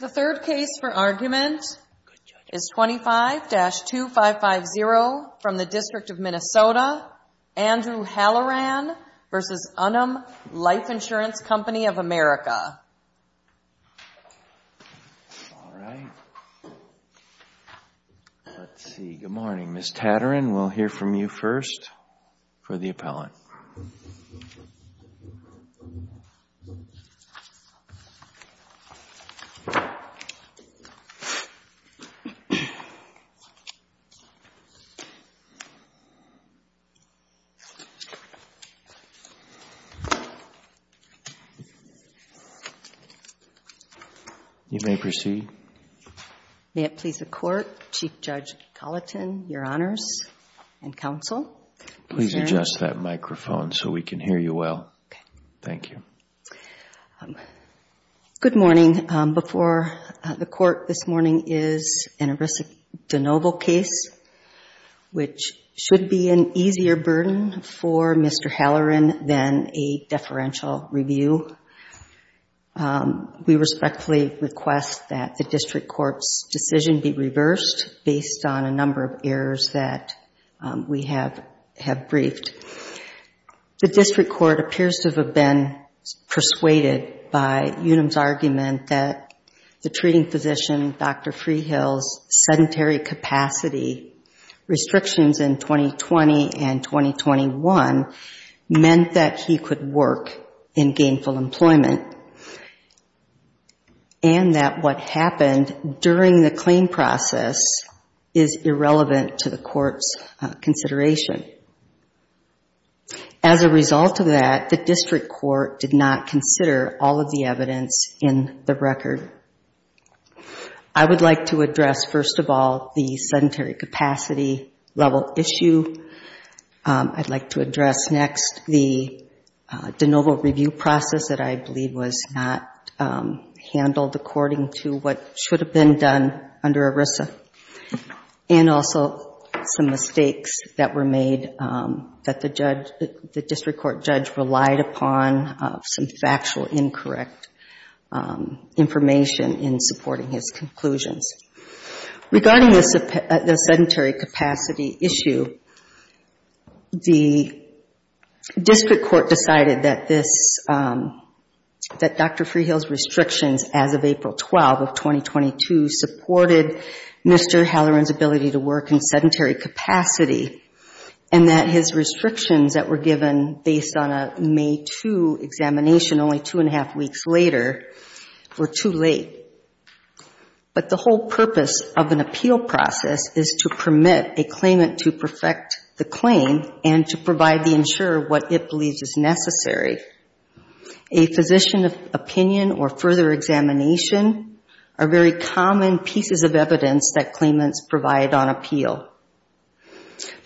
The third case for argument is 25-2550 from the District of Minnesota, Andrew Halloran v. Unum Life Insurance Co. of America. All right, let's see, good morning, Ms. Tatarin, we'll hear from you first for the next one. You may proceed. May it please the Court, Chief Judge Culleton, your Honors and Counsel. Please adjust that microphone so we can hear you well. Thank you. Good morning. Before the Court this morning is an Arisa DeNoble case, which should be an easier burden for Mr. Halloran than a deferential review. We respectfully request that the District Court's decision be reversed based on a number of errors that we have briefed. The District Court appears to have been persuaded by Unum's argument that the treating physician, Dr. Freehill's sedentary capacity restrictions in 2020 and 2021 meant that he could work in gainful employment and that what happened during the claim process is irrelevant to the Court's consideration. As a result of that, the District Court did not consider all of the evidence in the record. I would like to address, first of all, the sedentary capacity level issue. I'd like to address next the DeNoble review process that I believe was not handled according to what should have been done under Arisa and also some mistakes that were made that the District Court judge relied upon some factual incorrect information in supporting his conclusions. Regarding the sedentary capacity issue, the District Court decided that Dr. Freehill's restrictions as of April 12 of 2022 supported Mr. Halloran's ability to work in sedentary capacity and that his restrictions that were given based on a May 2 examination only two and a half weeks later were too late. But the whole purpose of an appeal process is to permit a claimant to perfect the claim and to provide the insurer what it believes is necessary. A physician opinion or further examination are very common pieces of evidence that claimants provide on appeal.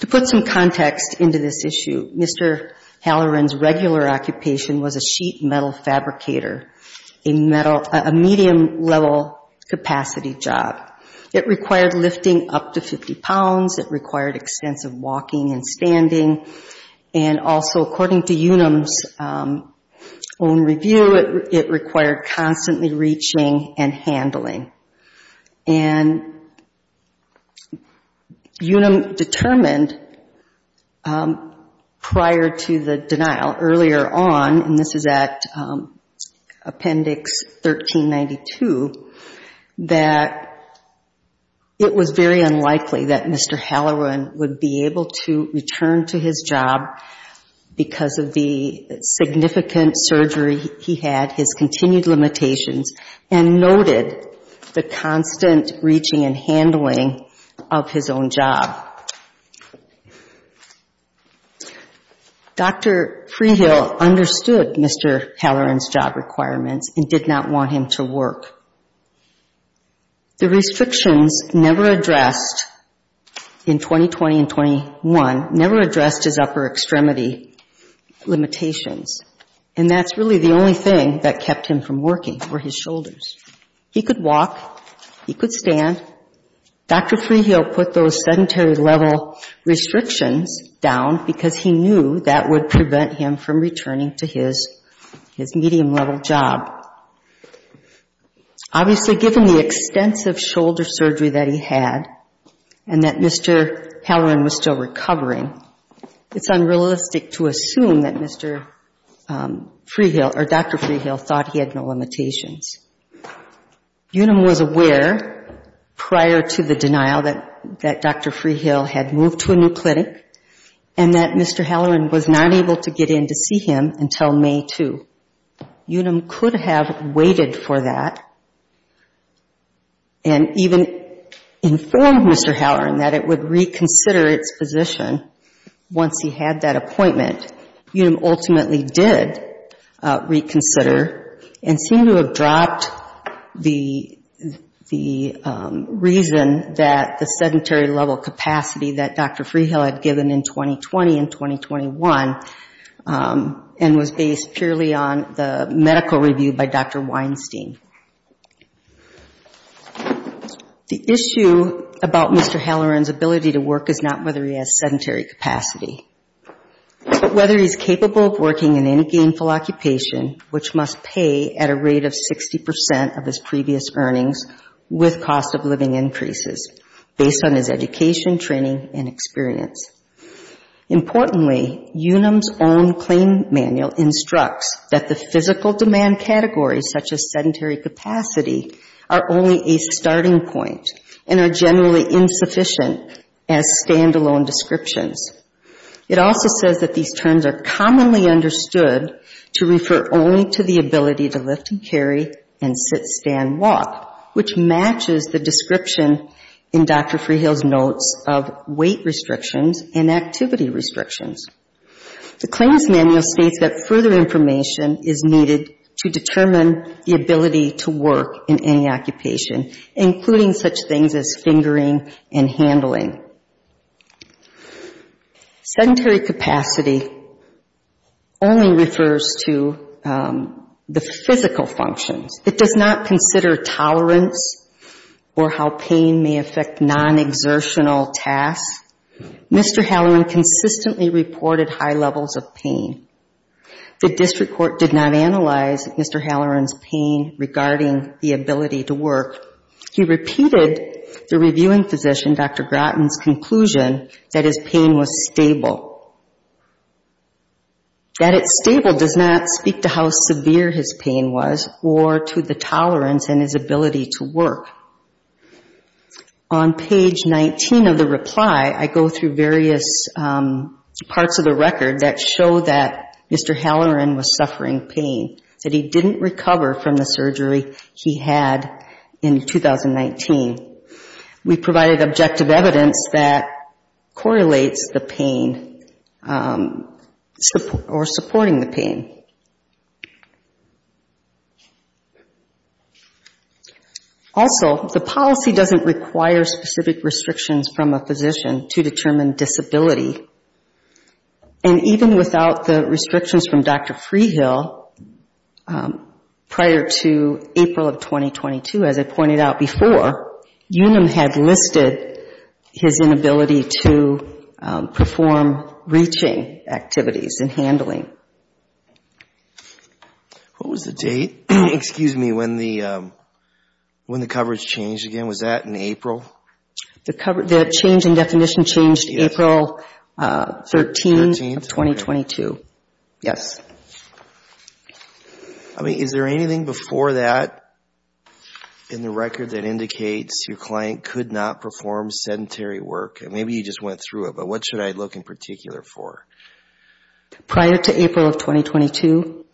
To put some context into this issue, Mr. Halloran's regular occupation was a sheet metal fabricator, a medium-level capacity job. It required lifting up to 50 pounds. It required extensive walking and standing. And also, according to Unum's own review, it required constantly reaching and handling. And Unum determined prior to the denial earlier on, and this is at Appendix 1392, that it was very unlikely that Mr. Halloran would be able to return to his job because of the significant surgery he had, his continued limitations, and noted the constant reaching and handling of his own job. Dr. Freehill understood Mr. Halloran's job requirements and did not want him to work. The restrictions never addressed, in 2020 and 21, never addressed his upper extremity limitations. And that's really the only thing that kept him from working were his shoulders. He could walk. He could stand. Dr. Freehill put those sedentary-level restrictions down because he knew that would prevent him from returning to his medium-level job. Obviously, given the extensive shoulder surgery that he had and that Mr. Halloran was still recovering, it's unrealistic to assume that Dr. Freehill thought he had no limitations. Unum was aware prior to the denial that Dr. Freehill had moved to a new clinic and that Mr. Halloran was not able to get in to see him until May 2. Unum could have waited for that and even informed Mr. Halloran that it would reconsider its position once he had that appointment. Unum ultimately did reconsider and seemed to have dropped the reason that the sedentary-level capacity that Dr. Freehill had given in 2020 and 2021 and was based purely on the medical review by Dr. Weinstein. The issue about Mr. Halloran's ability to work is not whether he has sedentary capacity but whether he's capable of working in a gainful occupation, which must pay at a rate of 60 in training and experience. Importantly, Unum's own claim manual instructs that the physical demand categories, such as sedentary capacity, are only a starting point and are generally insufficient as stand-alone descriptions. It also says that these terms are commonly understood to refer only to the ability to lift and carry and sit, stand, walk, which matches the description in Dr. Freehill's notes of weight restrictions and activity restrictions. The claims manual states that further information is needed to determine the ability to work in any occupation, including such things as fingering and handling. Sedentary capacity only refers to the physical functions. It does not consider tolerance or how pain may affect non-exertional tasks. Mr. Halloran consistently reported high levels of pain. The district court did not analyze Mr. Halloran's pain regarding the ability to work. He repeated the reviewing physician, Dr. Groton's conclusion that his pain was stable. That it's stable does not speak to how severe his pain was or to the tolerance and his ability to work. On page 19 of the reply, I go through various parts of the record that show that Mr. Halloran was suffering pain, that he didn't recover from the surgery he had in 2019. We provided objective evidence that correlates the pain or supporting the pain. Also, the policy doesn't require specific restrictions from a physician to determine disability. Even without the restrictions from Dr. Freehill, prior to April of 2022, as I pointed out before, UNAM had listed his inability to perform reaching activities and handling. What was the date, excuse me, when the coverage changed again? Was that in April? The change in definition changed April 13, 2022. Yes. I mean, is there anything before that in the record that indicates your client could not perform sedentary work? Maybe you just went through it, but what should I look in particular for? Prior to April of 2022,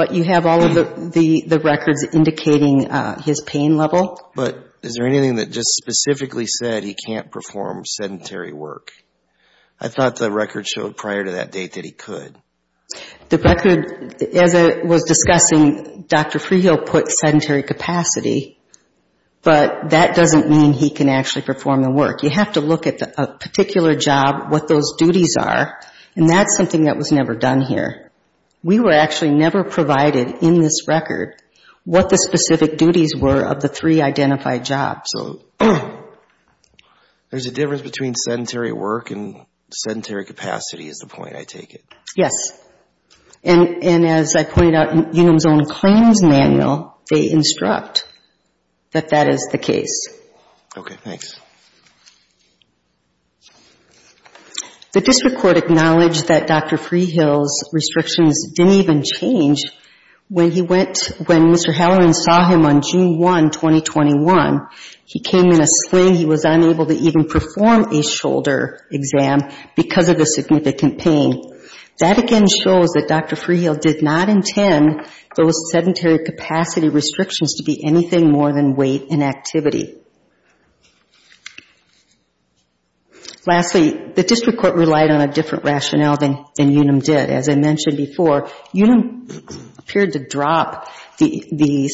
you have all of the records indicating his pain level. But is there anything that just specifically said he can't perform sedentary work? I thought the record showed prior to that date that he could. The record, as I was discussing, Dr. Freehill put sedentary capacity, but that doesn't mean he can actually perform the work. You have to look at a particular job, what those duties are, and that's something that was never done here. We were actually never provided in this record what the specific duties were of the three identified jobs. There's a difference between sedentary work and sedentary capacity is the point I take it. Yes. And as I pointed out in Unum's own claims manual, they instruct that that is the case. Okay. Thanks. The district court acknowledged that Dr. Freehill's restrictions didn't even change when Mr. Halloran saw him on June 1, 2021. He came in a sling. He was unable to even perform a shoulder exam because of the significant pain. That again shows that Dr. Freehill did not intend those sedentary capacity restrictions to be anything more than weight and activity. Lastly, the district court relied on a different rationale than Unum did. As I mentioned before, Unum appeared to drop the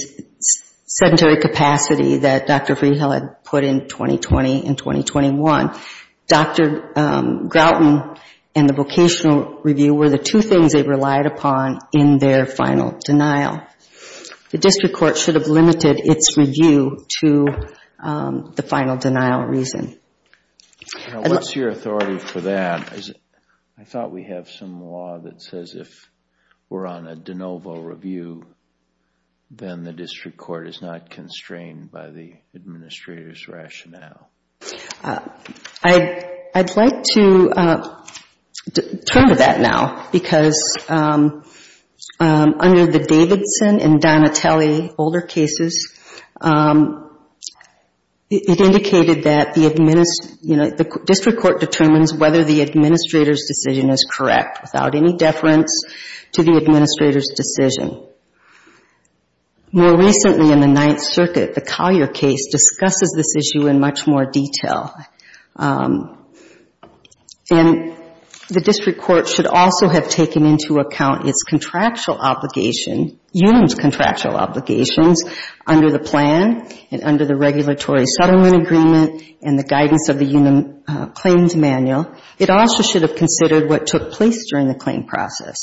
sedentary capacity that Dr. Freehill had put in 2020 and 2021. Dr. Grouton and the vocational review were the two things they relied upon in their final denial. The district court should have limited its review to the final denial reason. What's your authority for that? I thought we have some law that says if we're on a de novo review, then the district court is not constrained by the administrator's rationale. I'd like to turn to that now because under the Davidson and Donatelli older cases, it is correct without any deference to the administrator's decision. More recently in the Ninth Circuit, the Collier case discusses this issue in much more detail. The district court should also have taken into account its contractual obligation, Unum's contractual obligations under the plan and under the regulatory settlement agreement and the guidance of the Unum claims manual. It also should have considered what took place during the claim process.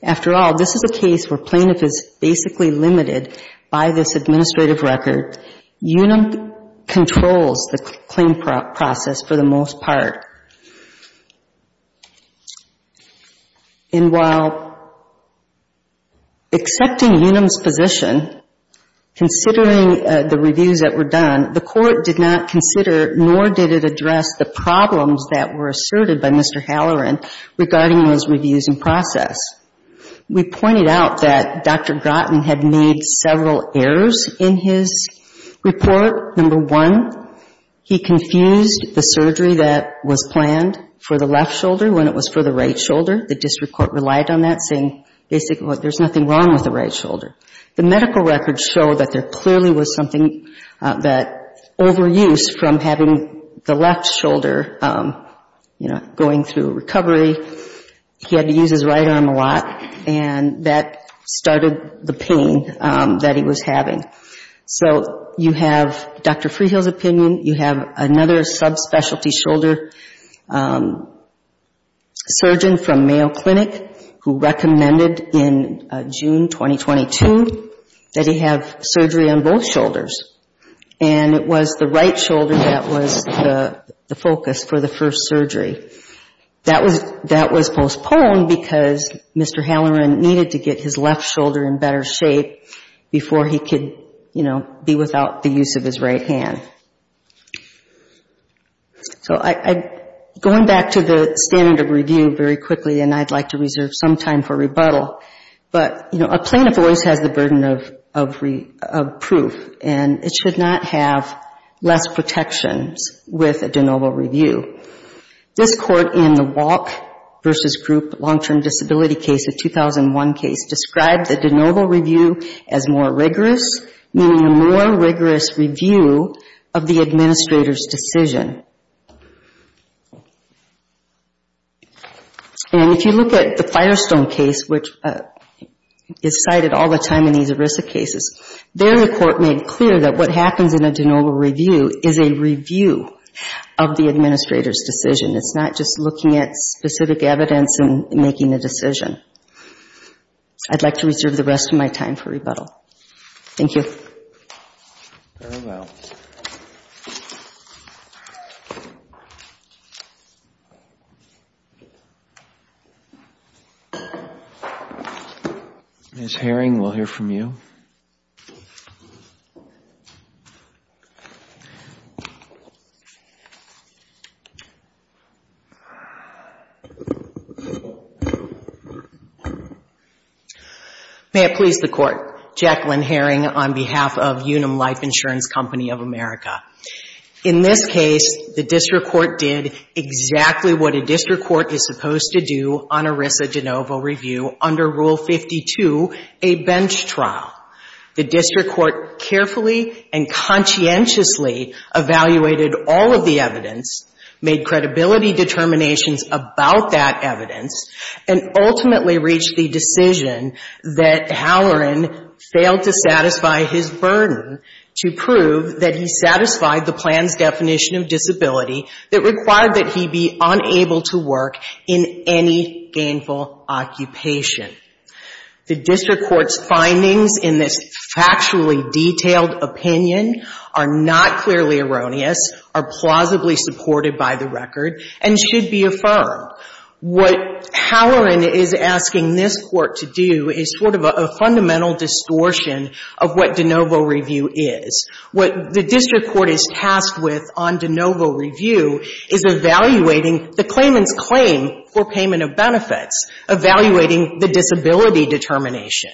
After all, this is a case where plaintiff is basically limited by this administrative record. Unum controls the claim process for the most part. And while accepting Unum's position, considering the reviews that were done, the court did not consider nor did it address the problems that were asserted by Mr. Halloran regarding his reviews and process. We pointed out that Dr. Groton had made several errors in his report. Number one, he confused the surgery that was planned for the left shoulder when it was for the right shoulder. The district court relied on that, saying basically there's nothing wrong with the right shoulder. The medical records show that there clearly was something that overuse from having the left shoulder, you know, going through a recovery, he had to use his right arm a lot and that started the pain that he was having. So you have Dr. Freehill's opinion. You have another subspecialty shoulder surgeon from Mayo Clinic who recommended in June 2022 that he have surgery on both shoulders. And it was the right shoulder that was the focus for the first surgery. That was postponed because Mr. Halloran needed to get his left shoulder in better shape before he could, you know, be without the use of his right hand. So going back to the standard of review very quickly, and I'd like to reserve some time for rebuttal, but, you know, a plaintiff always has the burden of proof, and it should not have less protections with a de novo review. This court in the Walk v. Group long-term disability case, the 2001 case, described the de novo review as more rigorous, meaning a more rigorous review of the administrator's decision. And if you look at the Firestone case, which is cited all the time in these ERISA cases, their report made clear that what happens in a de novo review is a review of the administrator's decision. It's not just looking at specific evidence and making a decision. I'd like to reserve the rest of my time for rebuttal. Thank you. Ms. Herring, we'll hear from you. May it please the Court. Jacqueline Herring on behalf of Unum Life Insurance Company of America. In this case, the district court did exactly what a district court is supposed to do on ERISA de novo review under Rule 52, a bench trial. The district court carefully and conscientiously evaluated all of the evidence, made credibility determinations about that evidence, and ultimately reached the decision that Halloran failed to satisfy his burden to prove that he satisfied the plan's definition of disability that required that he be unable to work in any gainful occupation. The district court's findings in this factually detailed opinion are not clearly erroneous, are plausibly supported by the record, and should be affirmed. What Halloran is asking this Court to do is sort of a fundamental distortion of what de novo review is. What the district court is tasked with on de novo review is evaluating the claimant's claim for payment of benefits, evaluating the disability determination.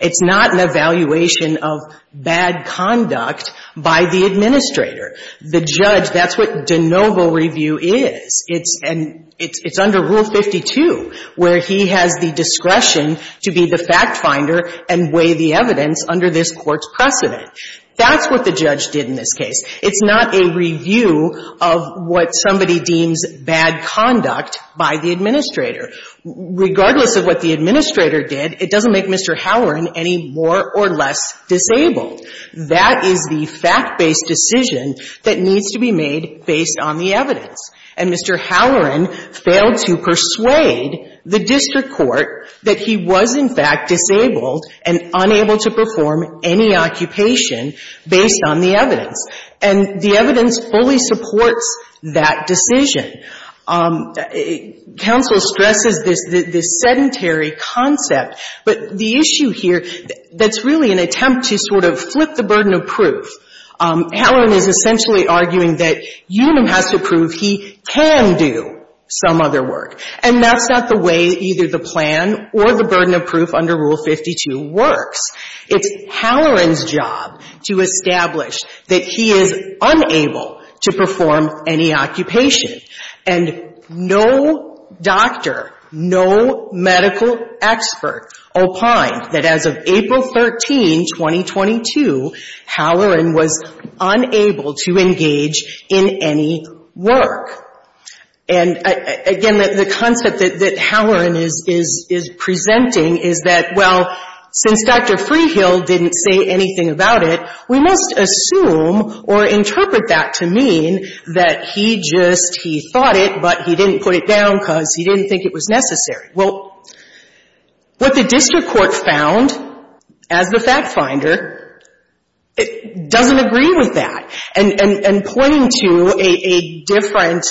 It's not an evaluation of bad conduct by the administrator. The judge, that's what de novo review is. It's under Rule 52, where he has the discretion to be the fact finder and weigh the evidence under this Court's precedent. That's what the judge did in this case. It's not a review of what somebody deems bad conduct by the administrator. Regardless of what the administrator did, it doesn't make Mr. Halloran any more or less disabled. That is the fact-based decision that needs to be made based on the evidence. And Mr. Halloran failed to persuade the district court that he was, in fact, disabled and unable to perform any occupation based on the evidence. And the evidence fully supports that decision. Counsel stresses this sedentary concept, but the issue here that's really an attempt to sort of flip the burden of proof. Halloran is essentially arguing that Unum has to prove he can do some other work. And that's not the way either the plan or the burden of proof under Rule 52 works. It's Halloran's job to establish that he is unable to perform any occupation. And no doctor, no medical expert opined that as of April 13, 2022, Halloran was unable to engage in any work. And, again, the concept that Halloran is presenting is that, well, since Dr. Freehill didn't say anything about it, we must assume or interpret that to mean that he just, he thought it, but he didn't put it down because he didn't think it was necessary. Well, what the district court found as the fact-finder, it doesn't agree with that. And pointing to a different,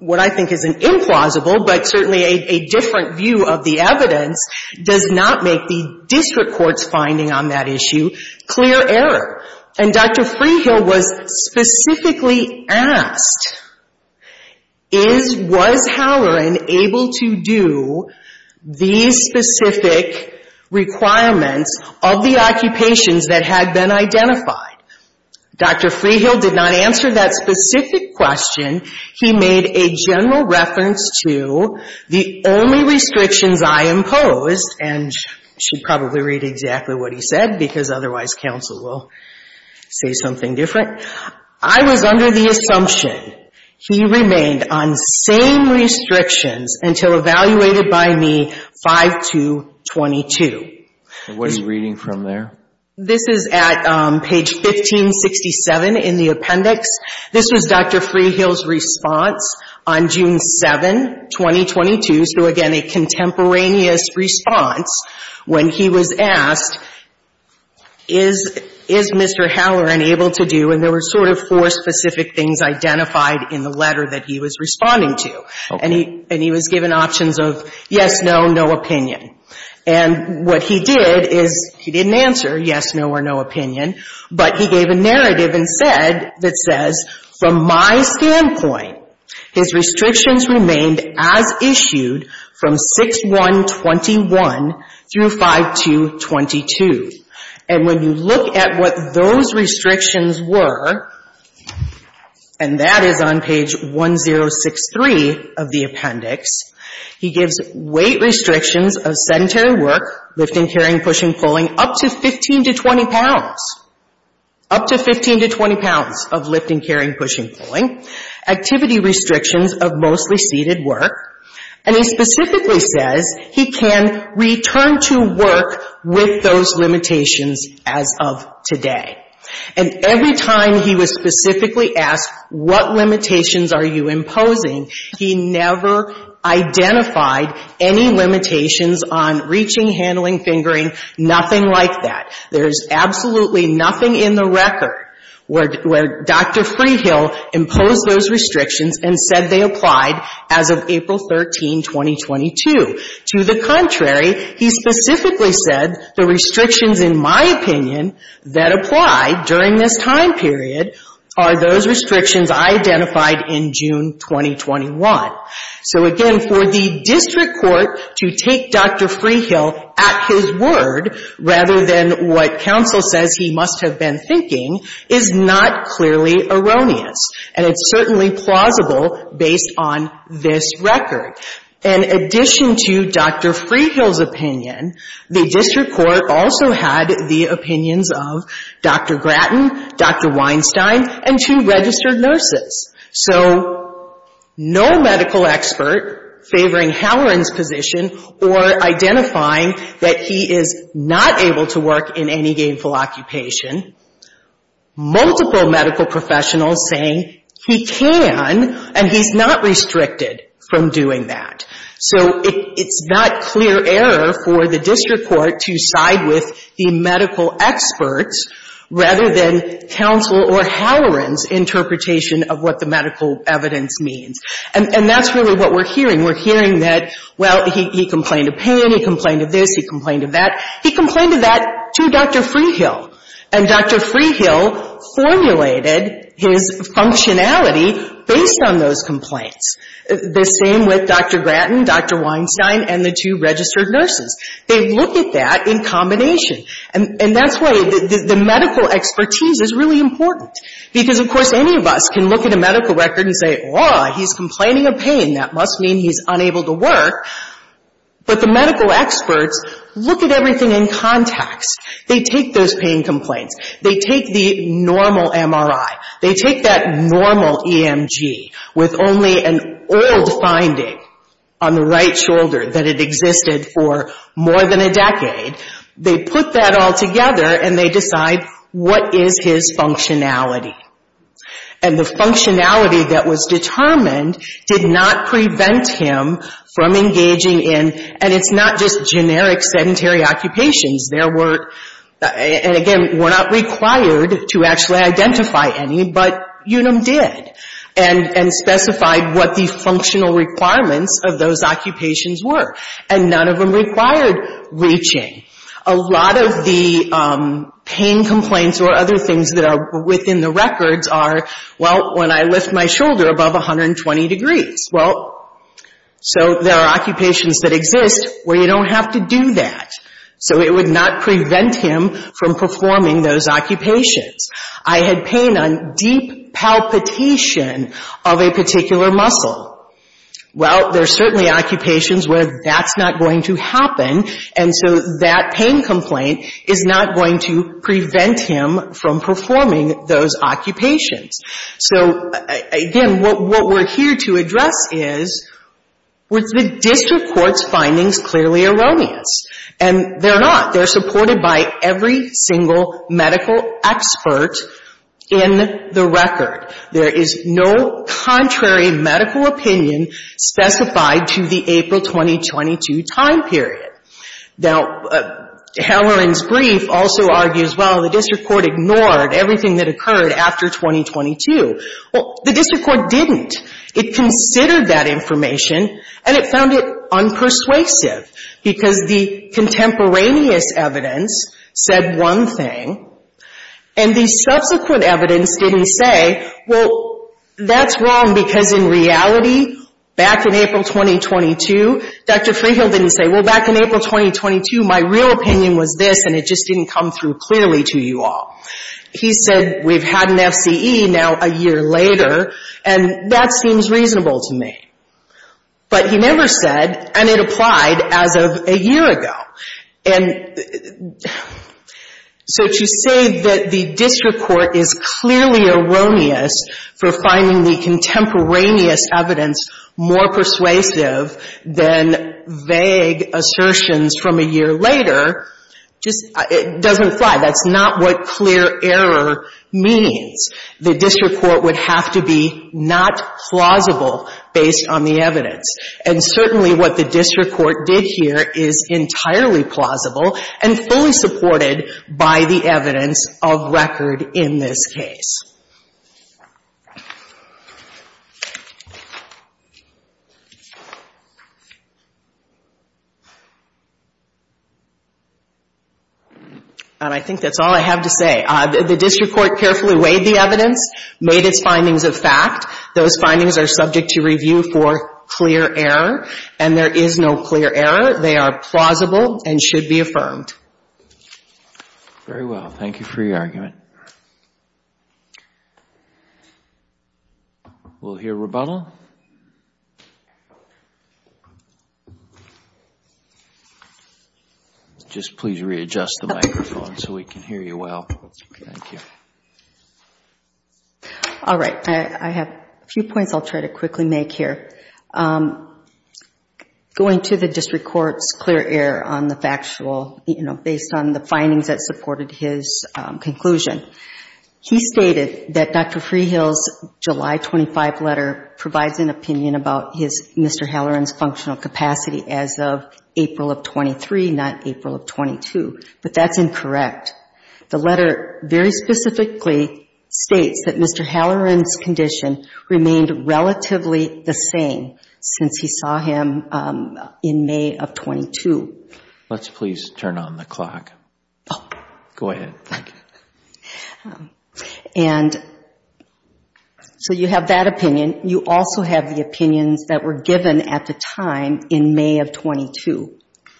what I think is an implausible, but certainly a different view of the evidence does not make the district court's finding on that issue clear error. And Dr. Freehill was specifically asked, is, was Halloran able to do these specific requirements of the occupations that had been identified? Dr. Freehill did not answer that specific question. He made a general reference to the only restrictions I imposed, and you should probably read exactly what he said because otherwise counsel will say something different. I was under the assumption he remained on same restrictions until evaluated by me 5 to 22. And what are you reading from there? This is at page 1567 in the appendix. This was Dr. Freehill's response on June 7, 2022, so again, a contemporaneous response when he was asked, is, is Mr. Halloran able to do, and there were sort of four specific things identified in the letter that he was responding to, and he was given options of yes, no, no opinion. And what he did is, he didn't answer yes, no, or no opinion, but he gave a narrative and said, that says, from my standpoint his restrictions remained as issued from 6-1-21 through 5-2-22. And when you look at what those restrictions were, and that is on page 1063 of the appendix, he gives weight restrictions of sedentary work, lifting, carrying, pushing, pulling, up to 15 to 20 pounds, up to 15 to 20 pounds of lifting, carrying, pushing, pulling, activity restrictions of mostly seated work, and he specifically says he can return to work with those limitations as of today. And every time he was specifically asked, what limitations are you imposing, he never identified any limitations on reaching, handling, fingering, nothing like that. There is absolutely nothing in the record where Dr. Freehill imposed those restrictions and said they applied as of April 13, 2022. To the contrary, he specifically said, the restrictions, in my opinion, that apply during this time period are those restrictions identified in June 2021. So again, for the district court to take Dr. Freehill at his word, rather than what counsel says he must have been thinking, is not clearly erroneous, and it's certainly plausible based on this record. In addition to Dr. Freehill's opinion, the district court also had the opinions of Dr. Gratton, Dr. Weinstein, and two registered nurses. So no medical expert favoring Halloran's position or identifying that he is not able to work in any gainful occupation. Multiple medical professionals saying he can, and he's not restricted from doing that. So it's not clear error for the district court to side with the medical experts rather than counsel or Halloran's interpretation of what the medical evidence means. And that's really what we're hearing. We're hearing that, well, he complained of pain, he complained of this, he complained of that. He complained of that to Dr. Freehill. And Dr. Freehill formulated his functionality based on those complaints. The same with Dr. Weinstein and two registered nurses. They've looked at that in combination. And that's why the medical expertise is really important. Because, of course, any of us can look at a medical record and say, oh, he's complaining of pain, that must mean he's unable to work. But the medical experts look at everything in context. They take those pain complaints. They take the normal MRI. They take that normal EMG with only an old finding on the right wrist for more than a decade. They put that all together and they decide what is his functionality. And the functionality that was determined did not prevent him from engaging in, and it's not just generic sedentary occupations. There were, and again, we're not required to actually identify any, but UNUM did. And specified what the functional requirements of those occupations were. And none of them required reaching. A lot of the pain complaints or other things that are within the records are, well, when I lift my shoulder above 120 degrees. Well, so there are occupations that exist where you don't have to do that. So it would not prevent him from performing those occupations. I had pain on deep palpitation of a particular muscle. Well, there are certainly occupations where that's not going to happen. And so that pain complaint is not going to prevent him from performing those occupations. So again, what we're here to address is the district court's findings clearly erroneous. And they're not. They're supported by every single medical expert in the record. There is no contrary medical opinion specified to the April 2022 time period. Now, Hellerin's brief also argues, well, the district court ignored everything that occurred after 2022. Well, the district court didn't. It considered that information and it found it unpersuasive because the contemporaneous evidence said one thing and the subsequent evidence didn't say, well, that's wrong because in reality, back in April 2022, Dr. Freehill didn't say, well, back in April 2022, my real opinion was this and it just didn't come through clearly to you all. He said, we've had an FCE now a year later and that seems reasonable to me. But he never said, and it applied as of a year ago. And so to say that the district court is clearly erroneous for finding the contemporaneous evidence more persuasive than vague assertions from a year later just doesn't fly. That's not what clear error means. The district court would have to be not plausible based on the evidence. And certainly what the district court did here is entirely plausible and fully supported by the evidence of record in this case. And I think that's all I have to say. The district court carefully considered the evidence, carefully weighed the evidence, made its findings a fact. Those findings are subject to review for clear error. And there is no clear error. They are plausible and should be affirmed. Very well. Thank you for your argument. We'll hear rebuttal. Just please readjust the microphone so we can hear you well. Thank you. All right. I have a few points I'll try to quickly make here. Going to the district court's clear error on the factual, you know, based on the findings that supported his conclusion. He stated that Dr. Freehill's July 25 letter provides an opinion about Mr. Halloran's functional capacity as of April of 23, not April of 22. But that's incorrect. The letter very specifically states that Mr. Halloran's condition remained relatively the same since he saw him in May of 22. Let's please turn on the clock. Go ahead. And so you have that opinion. You also have the opinions that were given at the time in May of 22.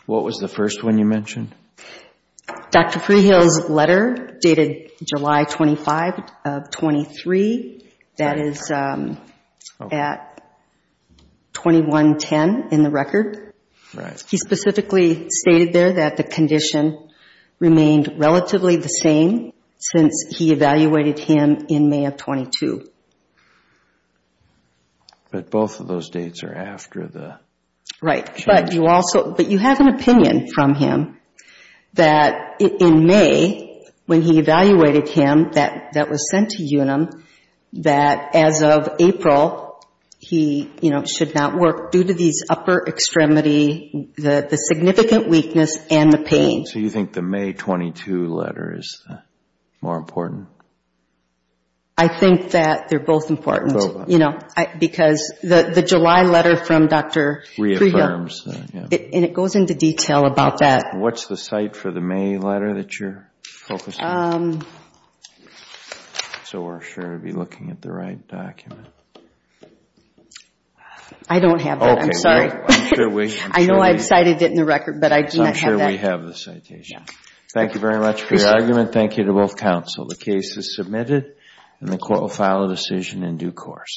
What was the first one you mentioned? Dr. Freehill's letter dated July 25 of 23. That is at 2110 in the record. Right. He specifically stated there that the condition remained relatively the same since he evaluated him in May of 22. But both of those dates are after the... Right. But you have an opinion from him that in May, when he evaluated him, that was sent to UNM, that as of April, he should not work due to these upper extremity... The significant weakness and the pain. So you think the May 22 letter is more important? I think that they're both important, you know, because the July letter from Dr. Freehill... Reaffirms. And it goes into detail about that. What's the site for the May letter that you're focusing on? So we're sure to be looking at the right document. I don't have that. I'm sorry. I know I've cited it in the record, but I do not have that. I'm sure we have the citation. Thank you very much for your argument. Thank you to both counsel. The case is submitted and the court will file a decision in due course.